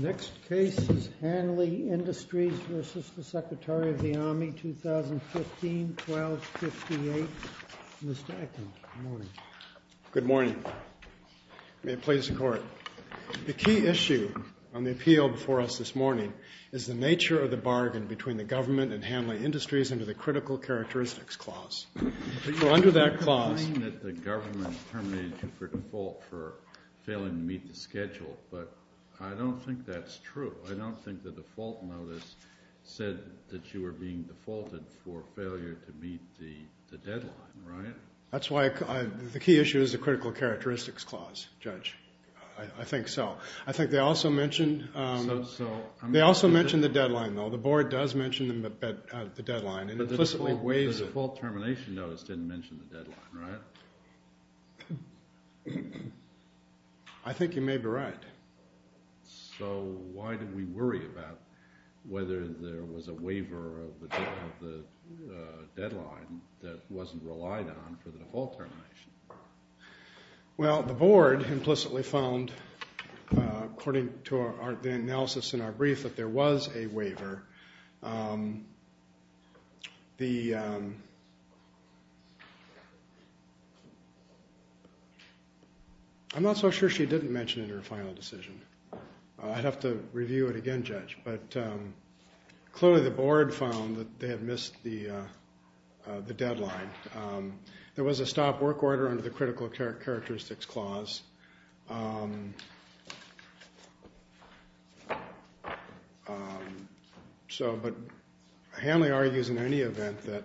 Next case is Hanley Industries v. the Secretary of the Army, 2006. The key issue on the appeal before us this morning is the nature of the bargain between the government and Hanley Industries under the Critical Characteristics Clause. Under that clause, the government terminated you for default for failing to meet the schedule. But I don't think that's true. I don't think the default notice said that you were being defaulted for failure to meet the deadline, right? That's why the key issue is the Critical Characteristics Clause, Judge. I think so. I think they also mentioned the deadline, though. The board does mention the deadline. But the default termination notice didn't mention the deadline, right? I think you may be right. So why did we worry about whether there was a waiver of the deadline that wasn't relied on for the default termination? Well, the board implicitly found, according to the analysis in our brief, that there was a waiver. I'm not so sure she didn't mention it in her final decision. I'd have to review it again, Judge. But clearly the board found that they had missed the deadline. There was a stop work order under the Critical Characteristics Clause. So, but Hanley argues in any event that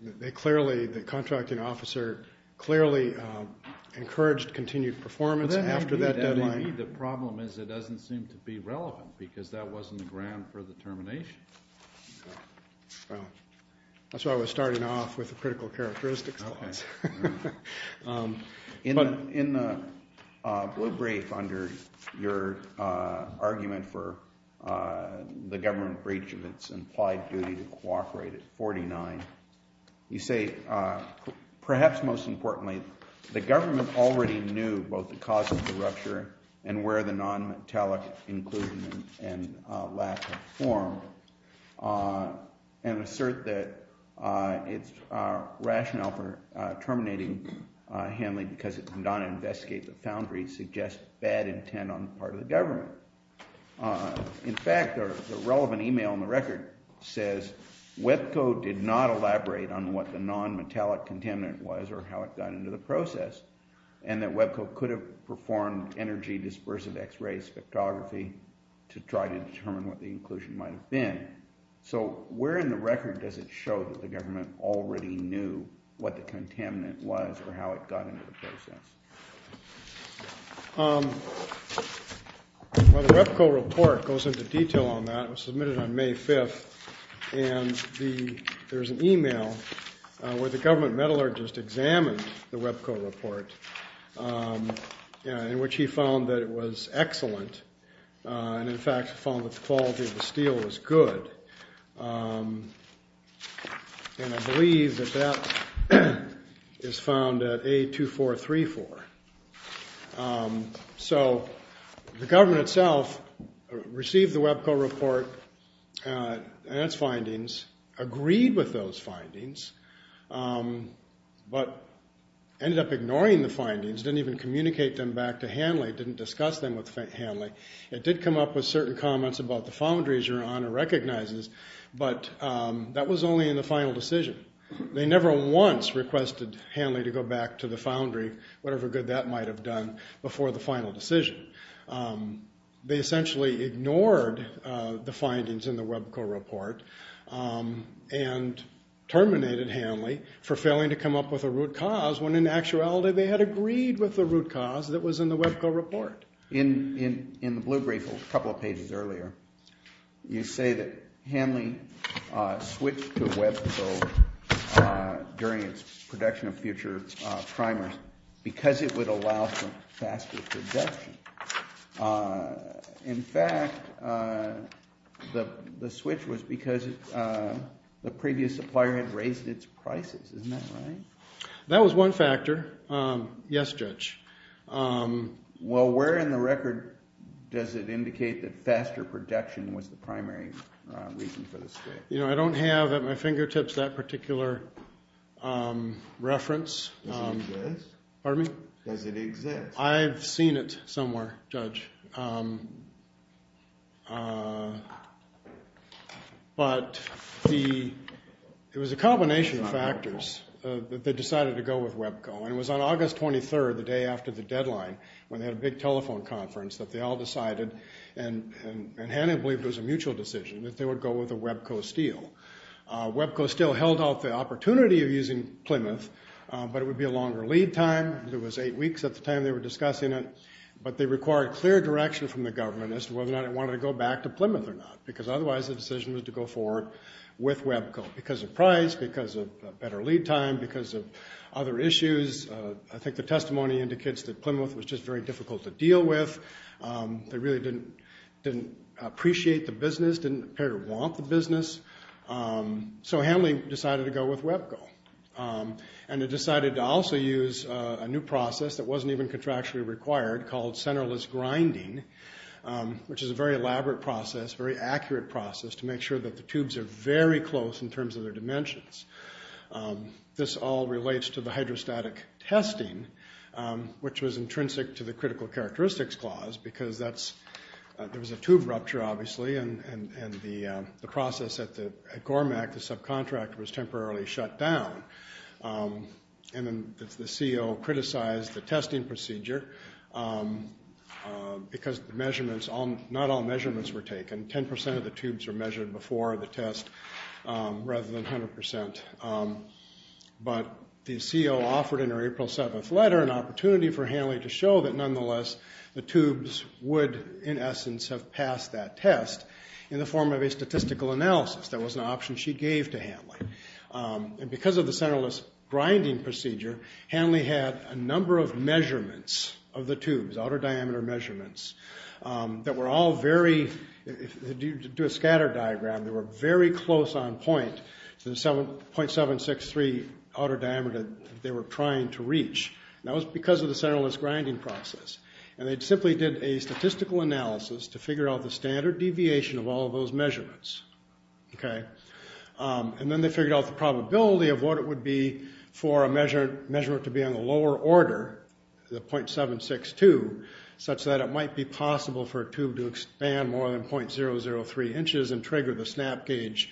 they clearly, the contracting officer, clearly encouraged continued performance after that deadline. That may be. The problem is it doesn't seem to be relevant because that wasn't the ground for the termination. Well, that's why I was starting off with the Critical Characteristics Clause. But in the brief under your argument for the government breach of its implied duty to cooperate at 49, you say, perhaps most importantly, the government already knew both the cause of the rupture and where the non-metallic inclusion and lack of form, and assert that its rationale for terminating Hanley because it did not investigate the foundry suggests bad intent on the part of the government. In fact, the relevant email in the record says Webco did not elaborate on what the non-metallic contaminant was or how it got into the process, and that Webco could have performed energy dispersive x-ray spectrography to try to determine what the inclusion might have been. So where in the record does it show that the government already knew what the contaminant was or how it got into the process? Well, the Webco report goes into detail on that. It was submitted on May 5th, and there's an email where the government metallurgist examined the Webco report in which he found that it was excellent, and in fact found that the quality of the steel was good, and I believe that that is found at A2434. So the government itself received the Webco report and its findings, agreed with those findings, but ended up ignoring the findings, didn't even communicate them back to Hanley, didn't discuss them with Hanley. It did come up with certain comments about the foundries your Honor recognizes, but that was only in the final decision. They never once requested Hanley to go back to the foundry, whatever good that might have done before the final decision. They essentially ignored the findings in the Webco report and terminated Hanley for failing to come up with a root cause when in actuality they had agreed with the root cause that was in the Webco report. In the blue brief a couple of pages earlier, you say that Hanley switched to Webco during its production of future primers because it would allow for faster production. In fact, the switch was because the previous supplier had raised its prices. Isn't that right? That was one factor. Yes, Judge. Well, where in the record does it indicate that faster production was the primary reason for the switch? You know, I don't have at my fingertips that particular reference. Does it exist? Pardon me? Does it exist? I've seen it somewhere, Judge. But it was a combination of factors that decided to go with Webco. And it was on August 23rd, the day after the deadline, when they had a big telephone conference, that they all decided, and Hanley believed it was a mutual decision, that they would go with a Webco steel. Webco still held out the opportunity of using Plymouth, but it would be a longer lead time. It was eight weeks at the time they were discussing it, but they required clear direction from the government as to whether or not it wanted to go back to Plymouth or not because otherwise the decision was to go forward with Webco because of price, because of better lead time, because of other issues. I think the testimony indicates that Plymouth was just very difficult to deal with. They really didn't appreciate the business, didn't appear to want the business. So Hanley decided to go with Webco. And they decided to also use a new process that wasn't even contractually required called centerless grinding, which is a very elaborate process, very accurate process to make sure that the tubes are very close in terms of their dimensions. This all relates to the hydrostatic testing, which was intrinsic to the critical characteristics clause because there was a tube rupture, obviously, and the process at GORMAC, the subcontractor, was temporarily shut down. And then the CO criticized the testing procedure because not all measurements were taken. 10% of the tubes were measured before the test rather than 100%. But the CO offered in her April 7th letter an opportunity for Hanley to show that nonetheless the tubes would, in essence, have passed that test in the form of a statistical analysis. That was an option she gave to Hanley. And because of the centerless grinding procedure, Hanley had a number of measurements of the tubes, outer diameter measurements, that were all very... To do a scatter diagram, they were very close on point to the 0.763 outer diameter that they were trying to reach. And that was because of the centerless grinding process. And they simply did a statistical analysis to figure out the standard deviation of all of those measurements. And then they figured out the probability of what it would be for a measurement to be in the lower order, the 0.762, such that it might be possible for a tube to expand more than 0.003 inches and trigger the snap gauge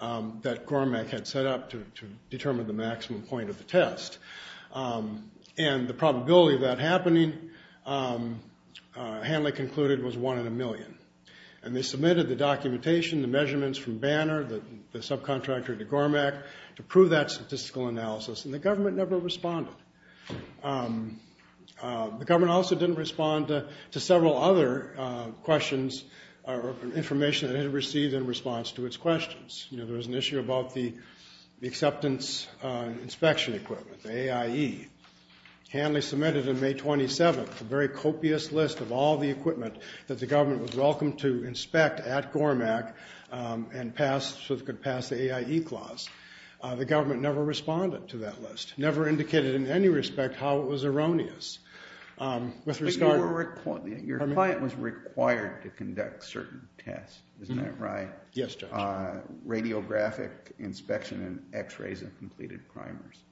that GORMAC had set up to determine the maximum point of the test. And the probability of that happening, Hanley concluded, was one in a million. And they submitted the documentation, the measurements from Banner, the subcontractor to GORMAC, to prove that statistical analysis. And the government never responded. The government also didn't respond to several other questions or information that it had received in response to its questions. There was an issue about the acceptance inspection equipment, the AIE. Hanley submitted on May 27th a very copious list of all the equipment that the government was welcome to inspect at GORMAC and pass, so it could pass the AIE clause. The government never responded to that list, never indicated in any respect how it was erroneous. But your client was required to conduct certain tests, isn't that right? Yes, Judge. Radiographic inspection and x-rays and completed primers.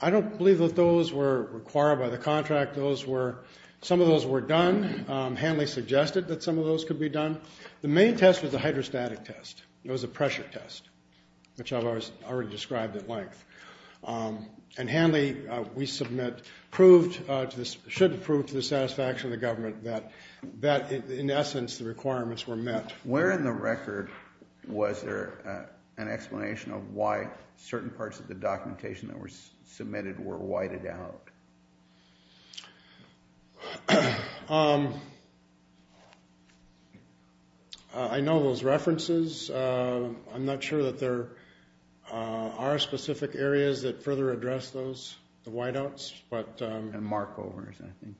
I don't believe that those were required by the contract. Some of those were done. Hanley suggested that some of those could be done. The main test was a hydrostatic test. It was a pressure test, which I've already described at length. And Hanley, we submit, should have proved to the satisfaction of the government that, in essence, the requirements were met. Where in the record was there an explanation of why certain parts of the documentation that were submitted were whited out? I know those references. I'm not sure that there are specific areas that further address those, the whiteouts. And markovers, I think.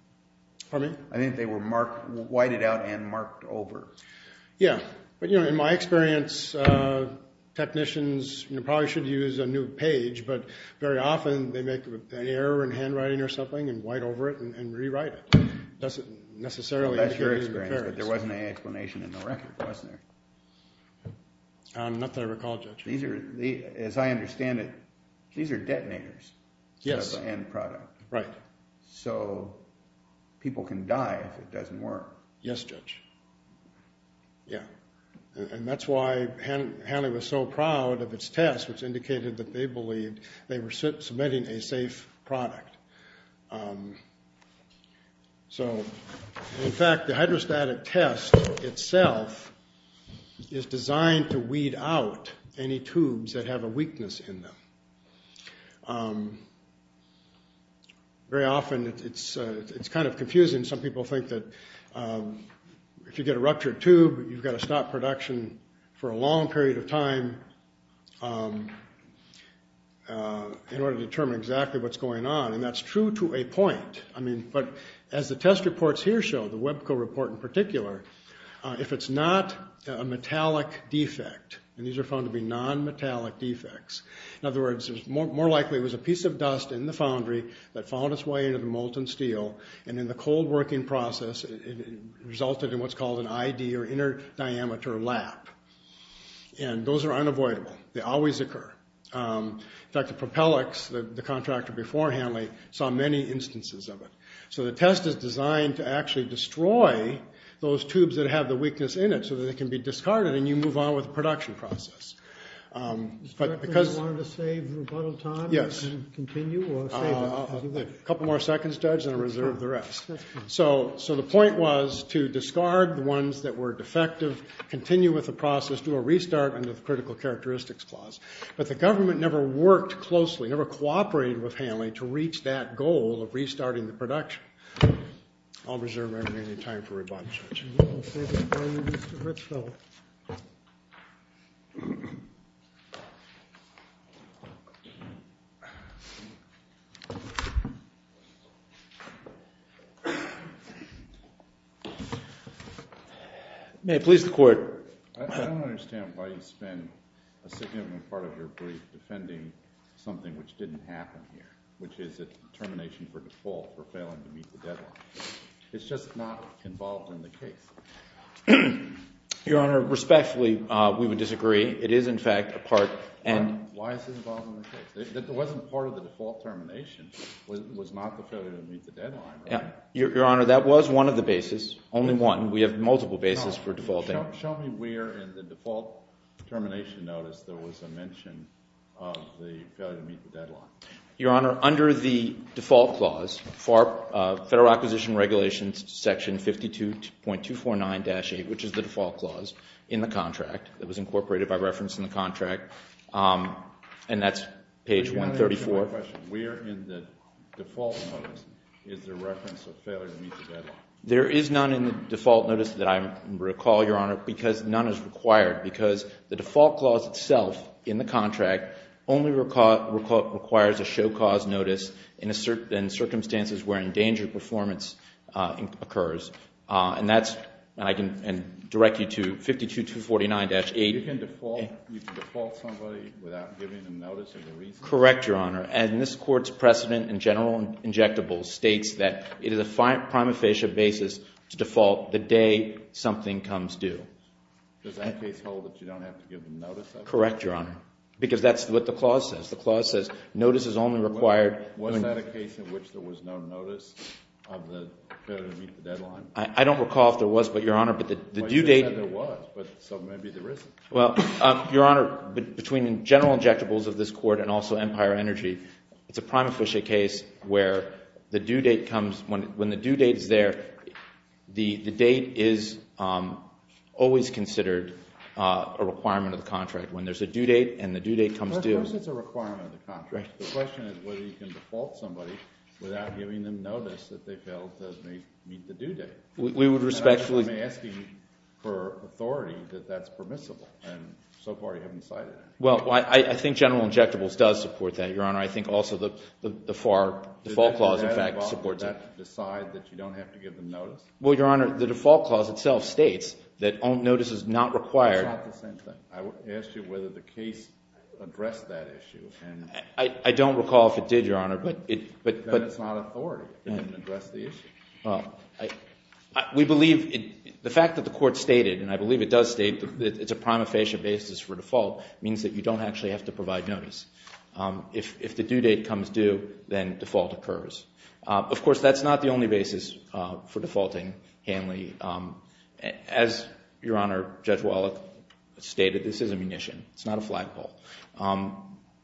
Pardon me? I think they were whited out and marked over. Yeah. But, you know, in my experience, technicians probably should use a new page, but very often they make an error in handwriting or something and white over it and rewrite it. It doesn't necessarily indicate that it's repaired. That's your experience, but there wasn't an explanation in the record, was there? Not that I recall, Judge. As I understand it, these are detonators. Yes. End product. Right. So people can die if it doesn't work. Yes, Judge. Yeah. And that's why Hanley was so proud of its test, which indicated that they believed they were submitting a safe product. So, in fact, the hydrostatic test itself is designed to weed out any tubes that have a weakness in them. Very often it's kind of confusing. Some people think that if you get a ruptured tube, you've got to stop production for a long period of time in order to determine exactly what's going on, and that's true to a point. I mean, but as the test reports here show, the Webco report in particular, if it's not a metallic defect, and these are found to be nonmetallic defects, in other words, more likely it was a piece of dust in the foundry that found its way into the molten steel, and in the cold working process, it resulted in what's called an ID, or inner diameter lap, and those are unavoidable. They always occur. In fact, the Propellix, the contractor before Hanley, saw many instances of it. So the test is designed to actually destroy those tubes that have the weakness in it so that they can be discarded and you move on with the production process. You want to save rebuttal time? Yes. Continue or save it? A couple more seconds, Judge, and I'll reserve the rest. So the point was to discard the ones that were defective, continue with the process, do a restart under the Critical Characteristics Clause. But the government never worked closely, never cooperated with Hanley, to reach that goal of restarting the production. I'll reserve every minute of time for rebuttal, Judge. May it please the Court. I don't understand why you spend a significant part of your brief defending something which didn't happen here, which is a termination for default for failing to meet the deadline. It's just not involved in the case. Your Honor, respectfully, we would disagree. It is, in fact, a part. Why is it involved in the case? It wasn't part of the default termination. It was not the failure to meet the deadline. Your Honor, that was one of the bases, only one. We have multiple bases for defaulting. Show me where in the default termination notice there was a mention of the failure to meet the deadline. Your Honor, under the default clause, Federal Acquisition Regulations Section 52.249-8, which is the default clause in the contract that was incorporated by reference in the contract, and that's page 134. Where in the default notice is there reference of failure to meet the deadline? There is none in the default notice that I recall, Your Honor, because none is required, because the default clause itself in the contract only requires a show cause notice in circumstances where endangered performance occurs. And that's, and I can direct you to 52.249-8. You can default somebody without giving them notice of the reason? Correct, Your Honor. And this Court's precedent in general injectables states that it is a prima facie basis to default the day something comes due. Does that case hold that you don't have to give them notice of it? Correct, Your Honor, because that's what the clause says. The clause says notice is only required. Was that a case in which there was no notice of the failure to meet the deadline? I don't recall if there was, but, Your Honor, the due date. Well, you said there was, but so maybe there isn't. Well, Your Honor, between general injectables of this Court and also Empire Energy, it's a prima facie case where the due date comes, when the due date is there, the date is always considered a requirement of the contract. When there's a due date and the due date comes due. Of course it's a requirement of the contract. The question is whether you can default somebody without giving them notice that they failed to meet the due date. We would respectfully. I'm asking for authority that that's permissible, and so far you haven't cited that. Well, I think general injectables does support that, Your Honor. I think also the FAR default clause, in fact, supports it. Does that decide that you don't have to give them notice? Well, Your Honor, the default clause itself states that notice is not required. It's not the same thing. I asked you whether the case addressed that issue. I don't recall if it did, Your Honor. Then it's not authority to address the issue. We believe the fact that the Court stated, and I believe it does state, that it's a prima facie basis for default means that you don't actually have to provide notice. If the due date comes due, then default occurs. Of course, that's not the only basis for defaulting Hanley. As Your Honor, Judge Wallach stated, this is a munition. It's not a flagpole.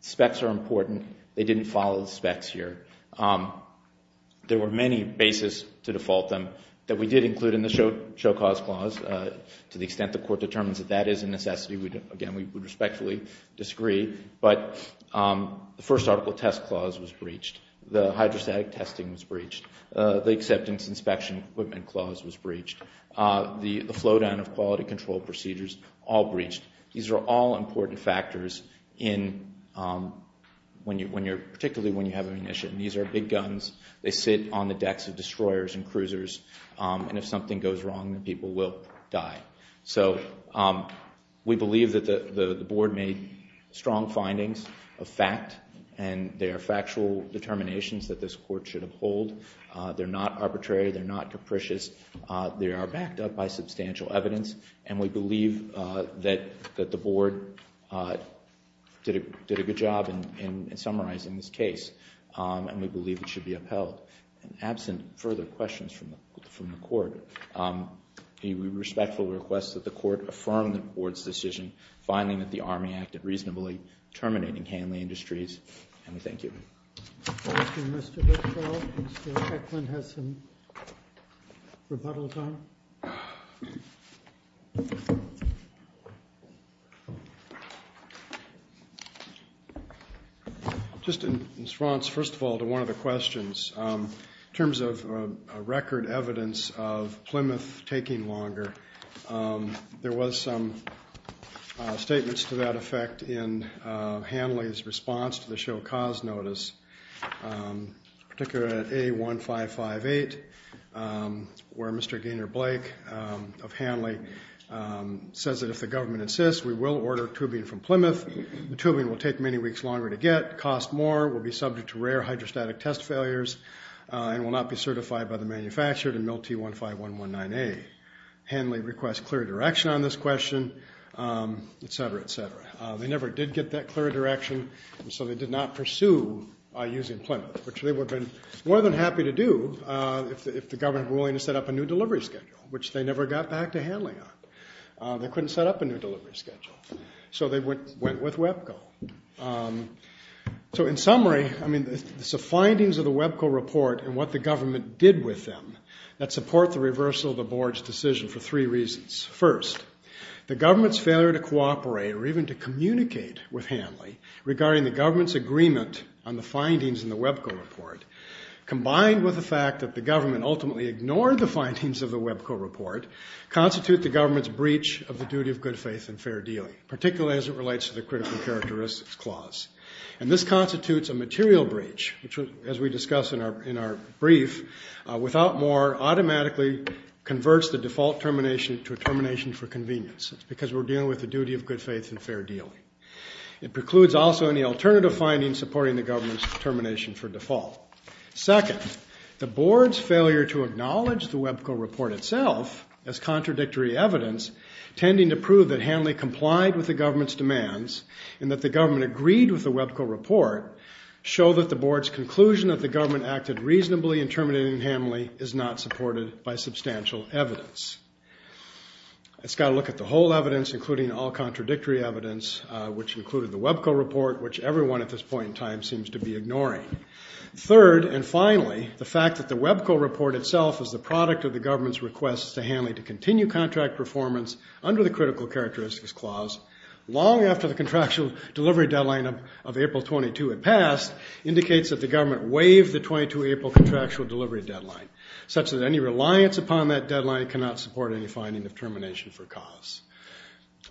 Specs are important. They didn't follow the specs here. There were many basis to default them that we did include in the show cause clause. To the extent the Court determines that that is a necessity, again, we would respectfully disagree. But the first article test clause was breached. The hydrostatic testing was breached. The acceptance inspection equipment clause was breached. The flow down of quality control procedures, all breached. These are all important factors, particularly when you have a munition. These are big guns. They sit on the decks of destroyers and cruisers, and if something goes wrong, people will die. So we believe that the Board made strong findings of fact, and they are factual determinations that this Court should uphold. They're not arbitrary. They're not capricious. They are backed up by substantial evidence, and we believe that the Board did a good job in summarizing this case, and we believe it should be upheld. And absent further questions from the Court, we respectfully request that the Court affirm the Board's decision, finding that the Army acted reasonably, terminating Hanley Industries, and we thank you. Thank you, Mr. Goodfellow. Mr. Eklund has some rebuttals on it. Thank you. Just in response, first of all, to one of the questions, in terms of record evidence of Plymouth taking longer, there was some statements to that effect in Hanley's response to the show cause notice, particularly at A1558, where Mr. Gaynor-Blake of Hanley says that, if the government insists, we will order tubing from Plymouth. The tubing will take many weeks longer to get, cost more, will be subject to rare hydrostatic test failures, and will not be certified by the manufacturer in MIL-T15119A. Hanley requests clear direction on this question, et cetera, et cetera. They never did get that clear direction, and so they did not pursue using Plymouth, which they would have been more than happy to do if the government were willing to set up a new delivery schedule, which they never got back to Hanley on. They couldn't set up a new delivery schedule, so they went with Webco. So in summary, I mean, the findings of the Webco report and what the government did with them that support the reversal of the Board's decision for three reasons. First, the government's failure to cooperate or even to communicate with Hanley regarding the government's agreement on the findings in the Webco report, combined with the fact that the government ultimately ignored the findings of the Webco report, constitute the government's breach of the duty of good faith and fair dealing, particularly as it relates to the critical characteristics clause. And this constitutes a material breach, which, as we discuss in our brief, without more automatically converts the default termination to a termination for convenience, because we're dealing with the duty of good faith and fair dealing. It precludes also any alternative findings supporting the government's termination for default. Second, the Board's failure to acknowledge the Webco report itself as contradictory evidence, tending to prove that Hanley complied with the government's demands and that the government agreed with the Webco report, show that the Board's conclusion that the government acted reasonably in terminating Hanley is not supported by substantial evidence. It's got to look at the whole evidence, including all contradictory evidence, which included the Webco report, which everyone at this point in time seems to be ignoring. Third, and finally, the fact that the Webco report itself is the product of the government's request to Hanley to continue contract performance under the critical characteristics clause long after the contractual delivery deadline of April 22 had passed indicates that the government waived the 22 April contractual delivery deadline, such that any reliance upon that deadline cannot support any finding of termination for cause.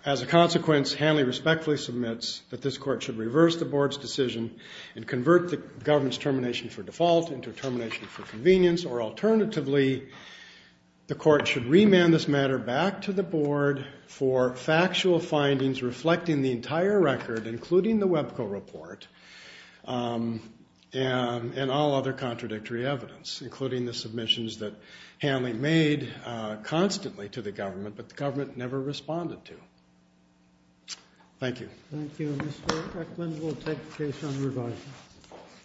As a consequence, Hanley respectfully submits that this court should reverse the Board's decision and convert the government's termination for default into a termination for convenience, or alternatively, the court should remand this matter back to the Board for factual findings reflecting the entire record, including the Webco report, and all other contradictory evidence, including the submissions that Hanley made constantly to the government, but the government never responded to. Thank you. Thank you, Mr. Kirkland. We'll take the case on revising.